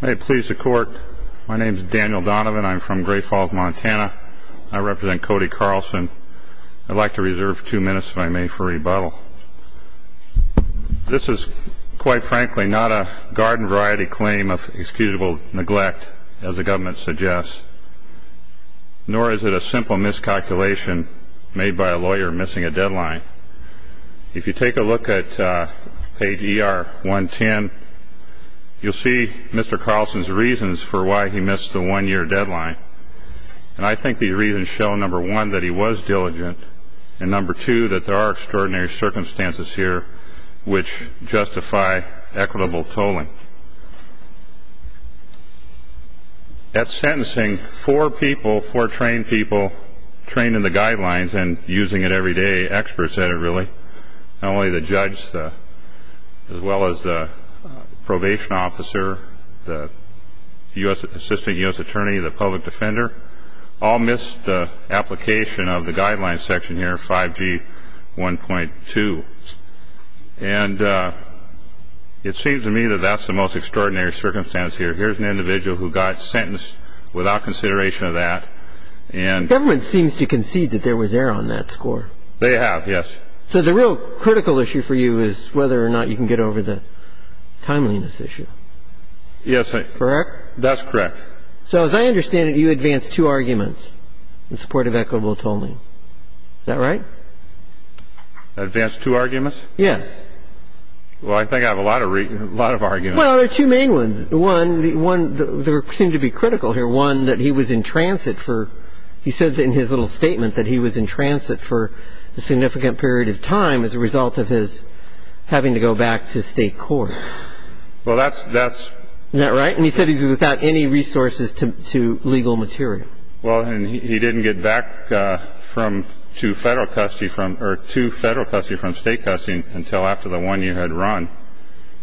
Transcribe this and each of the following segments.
May it please the Court, my name is Daniel Donovan, I'm from Great Falls, Montana. I represent Cody Carlsen. I'd like to reserve two minutes if I may for rebuttal. This is, quite frankly, not a garden variety claim of excusable neglect, as the government suggests, nor is it a simple miscalculation made by a lawyer missing a deadline. If you take a look at page ER 110, you'll see Mr. Carlsen's reasons for why he missed the one-year deadline. And I think these reasons show, number one, that he was diligent, and number two, that there are extraordinary circumstances here which justify equitable tolling. At sentencing, four people, four trained people, trained in the guidelines and using it every day, experts at it really, not only the judge, as well as the probation officer, the assistant U.S. attorney, the public defender, all missed the application of the guidelines section here, 5G 1.2. And it seems to me that that's the most extraordinary circumstance here. Here's an individual who got sentenced without consideration of that, and the government seems to concede that there was error on that score. They have, yes. So the real critical issue for you is whether or not you can get over the timeliness issue. Yes. Correct? That's correct. So as I understand it, you advanced two arguments in support of equitable tolling. Is that right? Advanced two arguments? Yes. Well, I think I have a lot of arguments. Well, there are two main ones. One, they seem to be critical here, one, that he was in transit for he said in his little statement that he was in transit for a significant period of time as a result of his having to go back to state court. Well, that's the best. Isn't that right? And he said he's without any resources to legal material. Well, and he didn't get back from to federal custody from or to federal custody from state custody until after the one year had run.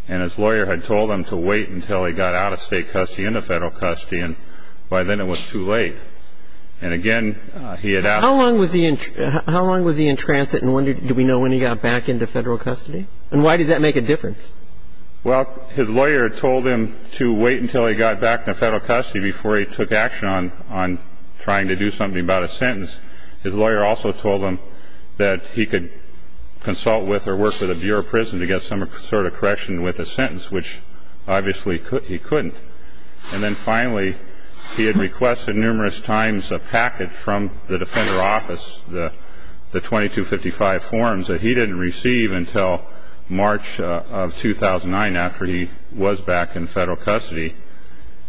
And his lawyer had told him to wait until he got out of state custody into federal custody, and by then it was too late. And, again, he had asked. How long was he in transit, and do we know when he got back into federal custody? And why does that make a difference? Well, his lawyer told him to wait until he got back into federal custody before he took action on trying to do something about a sentence. His lawyer also told him that he could consult with or work with the Bureau of Prison to get some sort of correction with a sentence, which obviously he couldn't. And then, finally, he had requested numerous times a package from the Defender Office, the 2255 forms, that he didn't receive until March of 2009 after he was back in federal custody.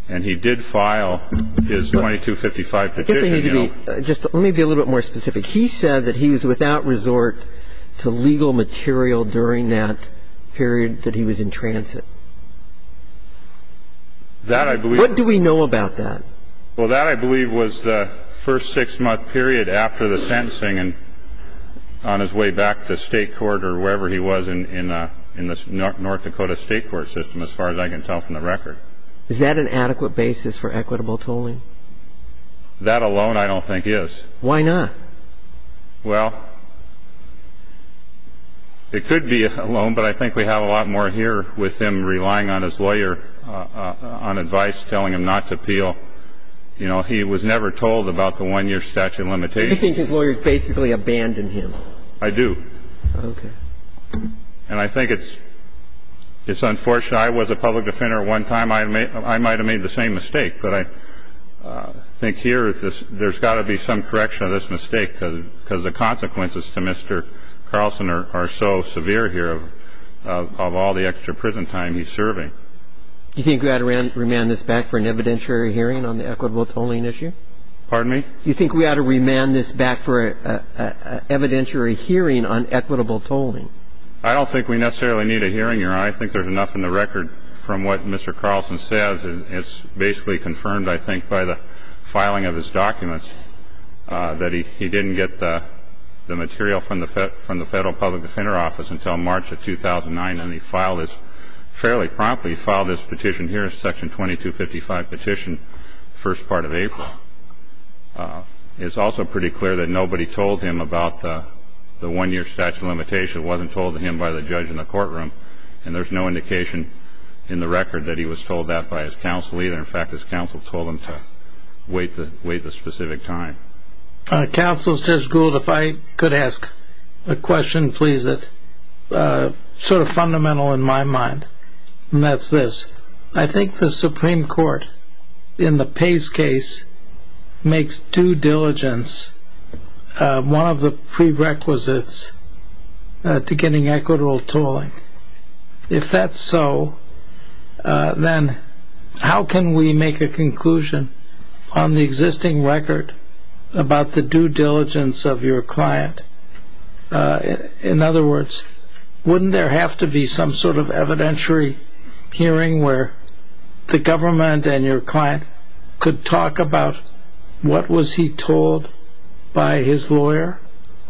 And he did file his 2255 petition. I guess I need to be just to be a little bit more specific. He said that he was without resort to legal material during that period that he was in transit. That, I believe. What do we know about that? Well, that, I believe, was the first six-month period after the sentencing and on his way back to state court or wherever he was in the North Dakota state court system, as far as I can tell from the record. Is that an adequate basis for equitable tolling? That alone I don't think is. Why not? Well, it could be alone, but I think we have a lot more here with him relying on his lawyer on advice, telling him not to appeal. You know, he was never told about the one-year statute of limitations. Do you think his lawyers basically abandoned him? I do. Okay. And I think it's unfortunate. I was a public defender at one time. I might have made the same mistake, but I think here there's got to be some correction of this mistake because the consequences to Mr. Carlson are so severe here of all the extra prison time he's serving. Do you think we ought to remand this back for an evidentiary hearing on the equitable tolling issue? Pardon me? Do you think we ought to remand this back for an evidentiary hearing on equitable tolling? I don't think we necessarily need a hearing here. I think there's enough in the record from what Mr. Carlson says. And it's basically confirmed, I think, by the filing of his documents, that he didn't get the material from the Federal Public Defender Office until March of 2009, and he filed this fairly promptly. He filed his petition here, Section 2255 petition, the first part of April. It's also pretty clear that nobody told him about the one-year statute of limitations. It wasn't told to him by the judge in the courtroom. And there's no indication in the record that he was told that by his counsel either. In fact, his counsel told him to wait the specific time. Counsel, Judge Gould, if I could ask a question, please. It's sort of fundamental in my mind, and that's this. I think the Supreme Court, in the Pace case, makes due diligence one of the prerequisites to getting equitable tolling. If that's so, then how can we make a conclusion on the existing record about the due diligence of your client? In other words, wouldn't there have to be some sort of evidentiary hearing where the government and your client could talk about what was he told by his lawyer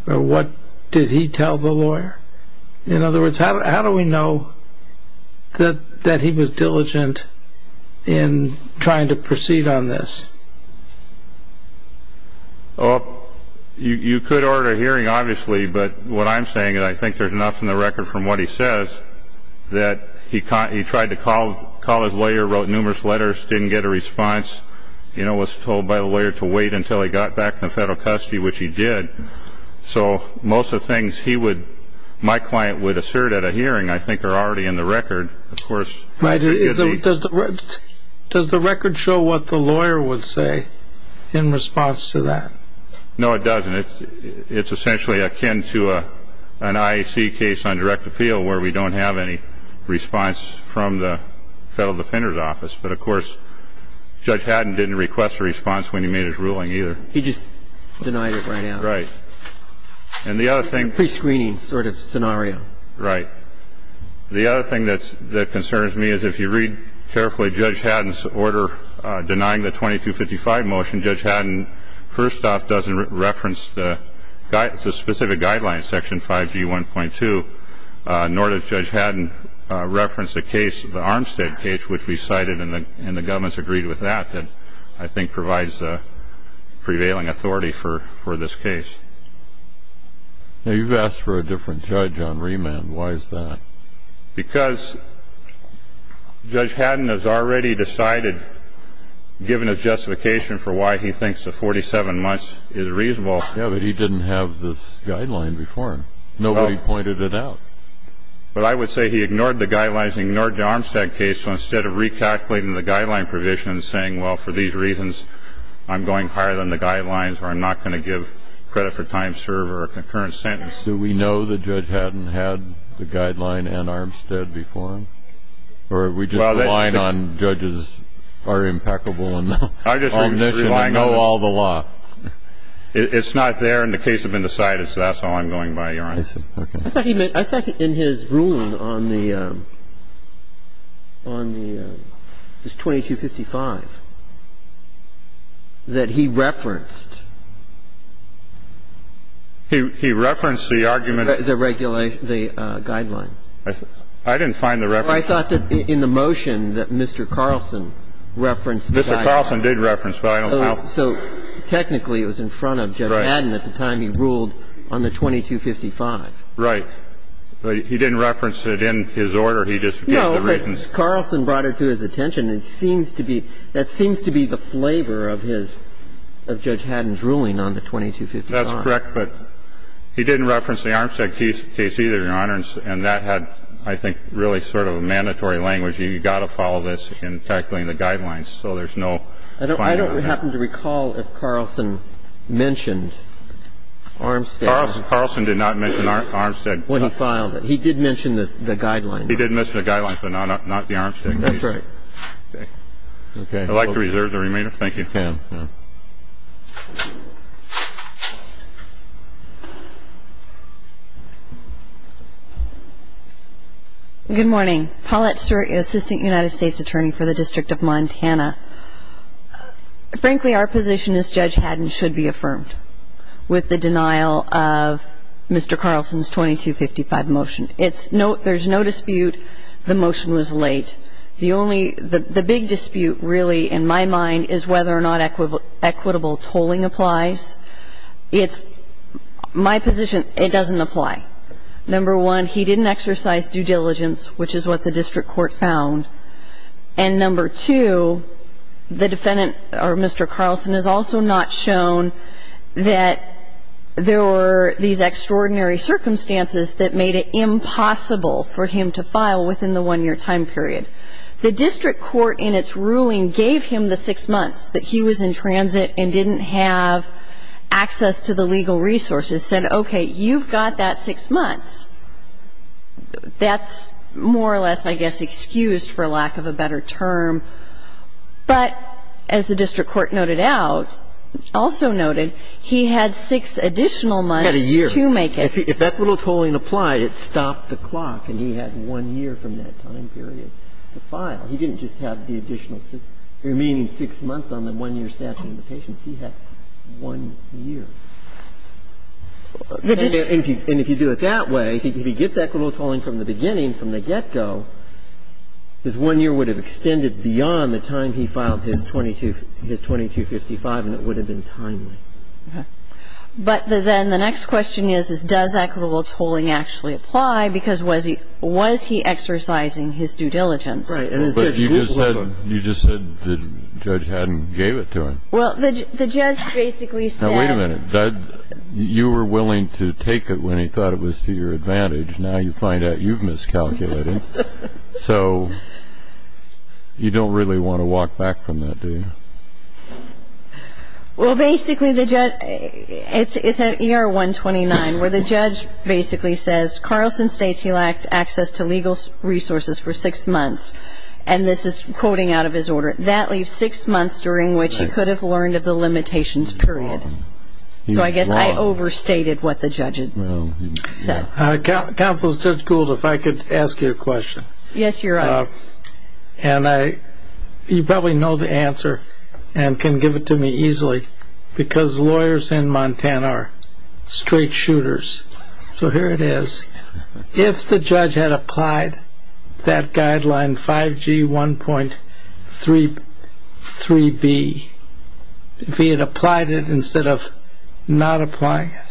or what did he tell the lawyer? In other words, how do we know that he was diligent in trying to proceed on this? You could order a hearing, obviously, but what I'm saying is I think there's enough in the record from what he says that he tried to call his lawyer, wrote numerous letters, didn't get a response, was told by the lawyer to wait until he got back into federal custody, which he did. So most of the things my client would assert at a hearing I think are already in the record. Does the record show what the lawyer would say in response to that? No, it doesn't. It's essentially akin to an IAC case on direct appeal where we don't have any response from the federal defender's office. But, of course, Judge Haddon didn't request a response when he made his ruling either. He just denied it right out. Right. And the other thing. A prescreening sort of scenario. Right. The other thing that concerns me is if you read carefully Judge Haddon's order denying the 2255 motion, Judge Haddon first off doesn't reference the specific guidelines, Section 5G1.2, nor does Judge Haddon reference the case, the Armstead case, which we cited, and the government's agreed with that, that I think provides the prevailing authority for this case. Now, you've asked for a different judge on remand. Why is that? Because Judge Haddon has already decided, given his justification for why he thinks the 47 months is reasonable. Yeah, but he didn't have this guideline before. Nobody pointed it out. But I would say he ignored the guidelines and ignored the Armstead case, so instead of recalculating the guideline provision and saying, well, for these reasons I'm going higher than the guidelines or I'm not going to give credit for time served or a concurrent sentence. Do we know that Judge Haddon had the guideline and Armstead before him? Or are we just relying on judges are impeccable and omniscient and know all the law? It's not there and the case has been decided, so that's all I'm going by, Your Honor. I thought in his ruling on the 2255 that he referenced. He referenced the argument. The guideline. I didn't find the reference. I thought that in the motion that Mr. Carlson referenced the guideline. Mr. Carlson did reference, but I don't know how. So technically it was in front of Judge Haddon at the time he ruled on the 2255. Right. But he didn't reference it in his order. He just gave the reasons. No, but Carlson brought it to his attention. It seems to be the flavor of Judge Haddon's ruling on the 2255. That's correct, but he didn't reference the Armstead case either, Your Honor, and that had, I think, really sort of a mandatory language. I don't happen to recall if Carlson mentioned Armstead. Carlson did not mention Armstead. When he filed it. He did mention the guideline. He did mention the guideline, but not the Armstead case. That's right. I'd like to reserve the remainder. Thank you. Ms. McCann. Good morning. Paulette Stewart, Assistant United States Attorney for the District of Montana. Frankly, our position is Judge Haddon should be affirmed with the denial of Mr. Carlson's 2255 motion. There's no dispute the motion was late. The big dispute really in my mind is whether or not equitable tolling applies. It's my position it doesn't apply. Number one, he didn't exercise due diligence, which is what the district court found. And number two, the defendant, or Mr. Carlson, has also not shown that there were these The district court in its ruling gave him the six months that he was in transit and didn't have access to the legal resources, said, okay, you've got that six months. That's more or less, I guess, excused for lack of a better term. But as the district court noted out, also noted, he had six additional months to make it. If equitable tolling applied, it stopped the clock and he had one year from that time period to file. He didn't just have the additional remaining six months on the one-year statute of the patients. He had one year. And if you do it that way, if he gets equitable tolling from the beginning, from the get-go, his one year would have extended beyond the time he filed his 2255 and it would have been timely. But then the next question is, does equitable tolling actually apply? Because was he exercising his due diligence? Right. But you just said the judge hadn't gave it to him. Well, the judge basically said... Now, wait a minute. You were willing to take it when he thought it was to your advantage. Now you find out you've miscalculated. So you don't really want to walk back from that, do you? Well, basically the judge... It's at ER 129 where the judge basically says, Carlson states he lacked access to legal resources for six months, and this is quoting out of his order, that leaves six months during which he could have learned of the limitations period. So I guess I overstated what the judge said. Counsel, Judge Gould, if I could ask you a question. Yes, Your Honor. And you probably know the answer and can give it to me easily because lawyers in Montana are straight shooters. So here it is. If the judge had applied that guideline 5G 1.33B, if he had applied it instead of not applying it,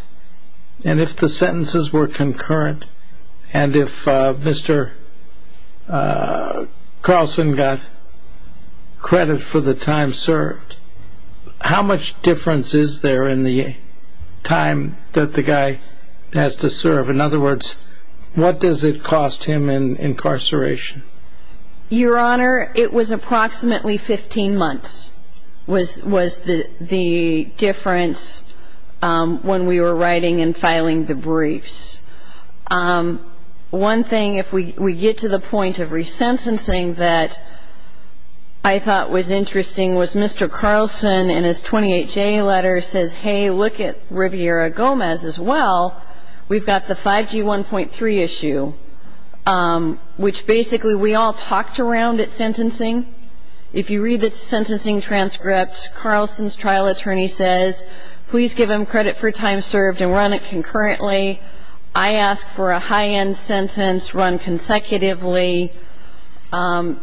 and if the sentences were concurrent, and if Mr. Carlson got credit for the time served, how much difference is there in the time that the guy has to serve? In other words, what does it cost him in incarceration? Your Honor, it was approximately 15 months was the difference when we were writing and filing the briefs. One thing, if we get to the point of resentencing that I thought was interesting, was Mr. Carlson in his 28-J letter says, hey, look at Riviera Gomez as well. We've got the 5G 1.3 issue, which basically we all talked around at sentencing. If you read the sentencing transcript, Carlson's trial attorney says, please give him credit for time served and run it concurrently. I ask for a high-end sentence run consecutively, and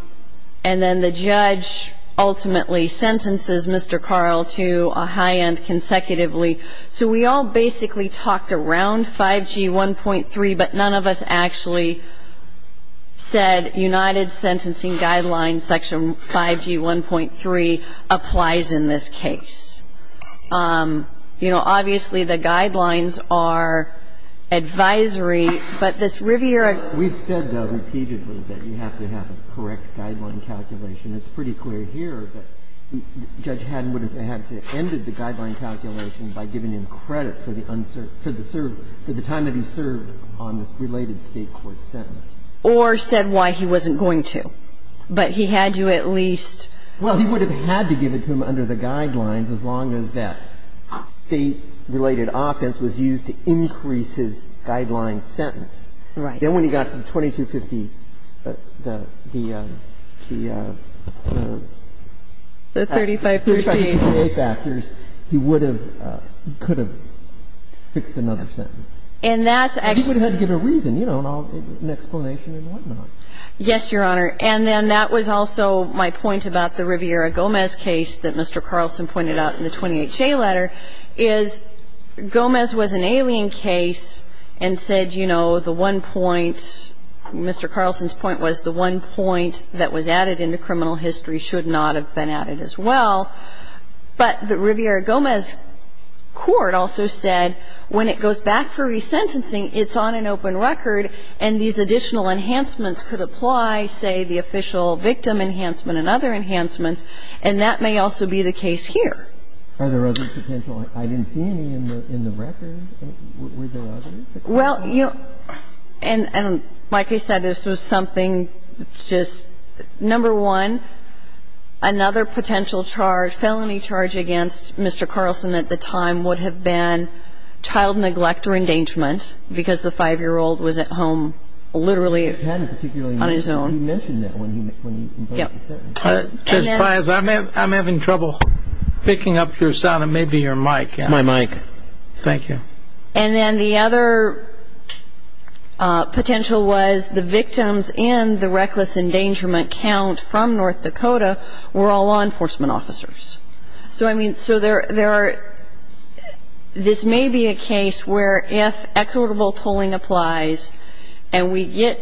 then the judge ultimately sentences Mr. Carl to a high-end consecutively. So we all basically talked around 5G 1.3, but none of us actually said United Sentencing Guidelines Section 5G 1.3 applies in this case. You know, obviously, the guidelines are advisory, but this Riviera ---- We've said, though, repeatedly that you have to have a correct guideline calculation. It's pretty clear here that Judge Haddon would have had to have ended the guideline calculation by giving him credit for the time that he served on this related State court sentence. Or said why he wasn't going to. But he had to at least ---- Well, he would have had to give it to him under the guidelines as long as that State-related offense was used to increase his guideline sentence. Right. Then when he got from 2250, the ---- The 3538. The 3538 factors, he would have, could have fixed another sentence. And that's actually ---- He would have had to give a reason, you know, an explanation and whatnot. Yes, Your Honor. And then that was also my point about the Riviera-Gomez case that Mr. Carlson pointed out in the 28-J letter, is Gomez was an alien case and said, you know, the one point, Mr. Carlson's point was the one point that was added into criminal history should not have been added as well. But the Riviera-Gomez court also said when it goes back for resentencing, it's on an open record, and these additional enhancements could apply, say, the official victim enhancement and other enhancements, and that may also be the case here. Are there other potential ---- I didn't see any in the record. Were there others? Well, you know, and like I said, this was something just, number one, another potential charge, felony charge against Mr. Carlson at the time would have been child neglect or endangerment, because the 5-year-old was at home literally on his own. He mentioned that when he ---- Yes. Judge Files, I'm having trouble picking up your sound. It may be your mic. It's my mic. Thank you. And then the other potential was the victims and the reckless endangerment count from North Dakota were all law enforcement officers. So, I mean, so there are ---- this may be a case where if equitable tolling applies and we get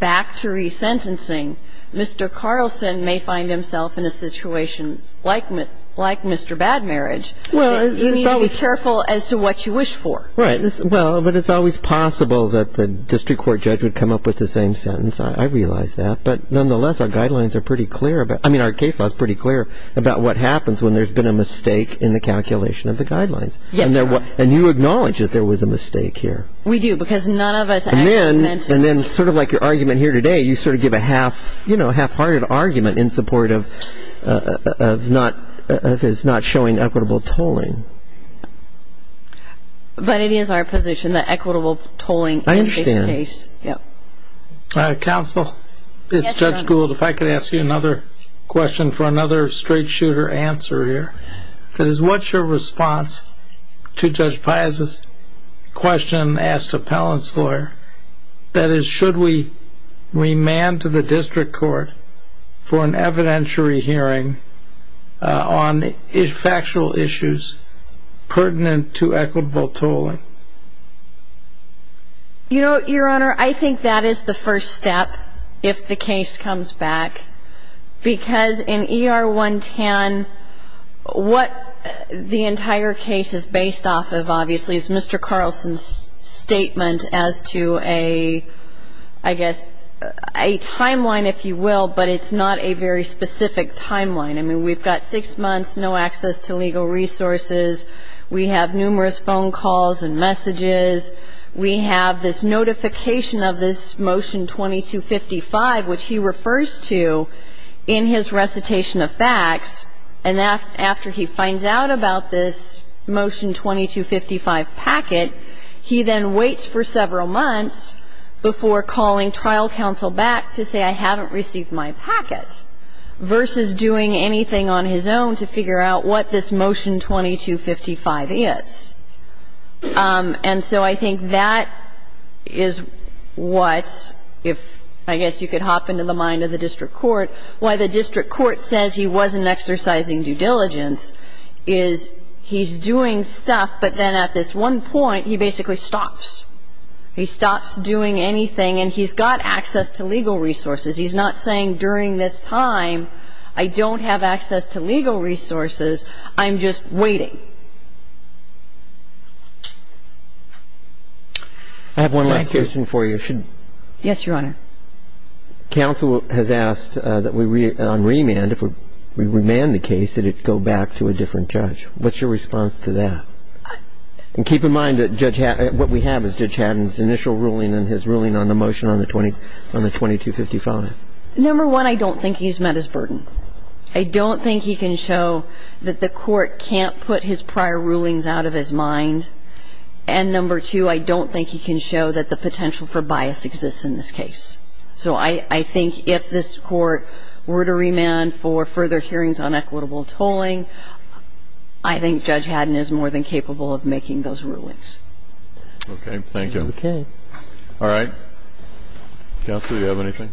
back to resentencing, Mr. Carlson may find himself in a situation like Mr. Bad Marriage. Well, it's always ---- You need to be careful as to what you wish for. Right. Well, but it's always possible that the district court judge would come up with the same sentence. I realize that. But nonetheless, our guidelines are pretty clear about ---- I mean, our case law is pretty clear about what happens when there's been a mistake in the calculation of the guidelines. Yes, sir. And you acknowledge that there was a mistake here. We do, because none of us actually ---- And then sort of like your argument here today, you sort of give a half-hearted argument in support of not showing equitable tolling. But it is our position that equitable tolling is the case. I understand. Yes. Counsel? Yes, Your Honor. Ms. Gould, if I could ask you another question for another straight-shooter answer here. That is, what's your response to Judge Piazza's question asked to Appellant's lawyer? That is, should we remand to the district court for an evidentiary hearing on factual issues pertinent to equitable tolling? You know, Your Honor, I think that is the first step, if the case comes back. Because in ER 110, what the entire case is based off of, obviously, is Mr. Carlson's statement as to a, I guess, a timeline, if you will, but it's not a very specific timeline. I mean, we've got six months, no access to legal resources. We have numerous phone calls and messages. We have this notification of this Motion 2255, which he refers to in his recitation of facts. And after he finds out about this Motion 2255 packet, he then waits for several months before calling trial counsel back to say, I haven't received my packet, versus doing anything on his own to figure out what this Motion 2255 is. And so I think that is what, if I guess you could hop into the mind of the district court, why the district court says he wasn't exercising due diligence is he's doing stuff, but then at this one point, he basically stops. He stops doing anything, and he's got access to legal resources. He's not saying during this time, I don't have access to legal resources. I'm just waiting. Thank you. I have one last question for you. Yes, Your Honor. Counsel has asked that on remand, if we remand the case, that it go back to a different judge. What's your response to that? And keep in mind that what we have is Judge Haddon's initial ruling and his ruling on the motion on the 2255. Number one, I don't think he's met his burden. I don't think he can show that the court can't put his prior rulings out of his mind. And number two, I don't think he can show that the potential for bias exists in this case. So I think if this court were to remand for further hearings on equitable tolling, I think Judge Haddon is more than capable of making those rulings. Okay. Thank you. All right. Counsel, do you have anything?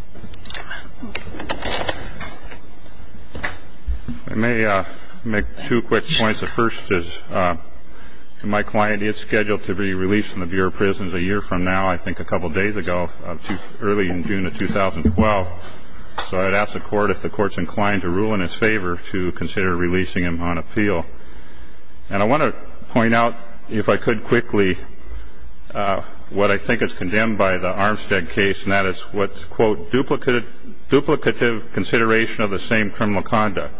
I may make two quick points. The first is, my client is scheduled to be released from the Bureau of Prisons a year from now, I think a couple days ago, early in June of 2012. So I'd ask the Court if the Court's inclined to rule in his favor to consider releasing him on appeal. And I want to point out, if I could quickly, what I think is condemned by the Armstead case, and that is what's, quote, duplicative consideration of the same criminal conduct.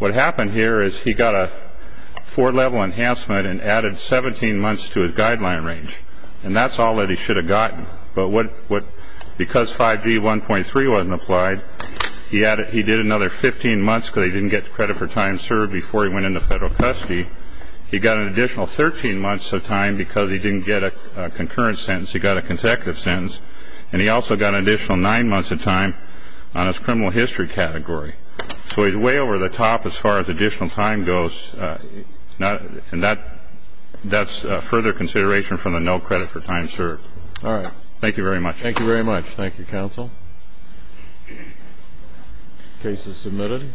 What happened here is he got a four-level enhancement and added 17 months to his guideline range, and that's all that he should have gotten. But because 5G 1.3 wasn't applied, he did another 15 months because he didn't get credit for time served before he went into federal custody. He got an additional 13 months of time because he didn't get a concurrent sentence. He got a consecutive sentence. And he also got an additional nine months of time on his criminal history category. So he's way over the top as far as additional time goes, and that's further consideration from the no credit for time served. All right. Thank you very much. Thank you very much. Thank you, Counsel. Case is submitted. Thank you.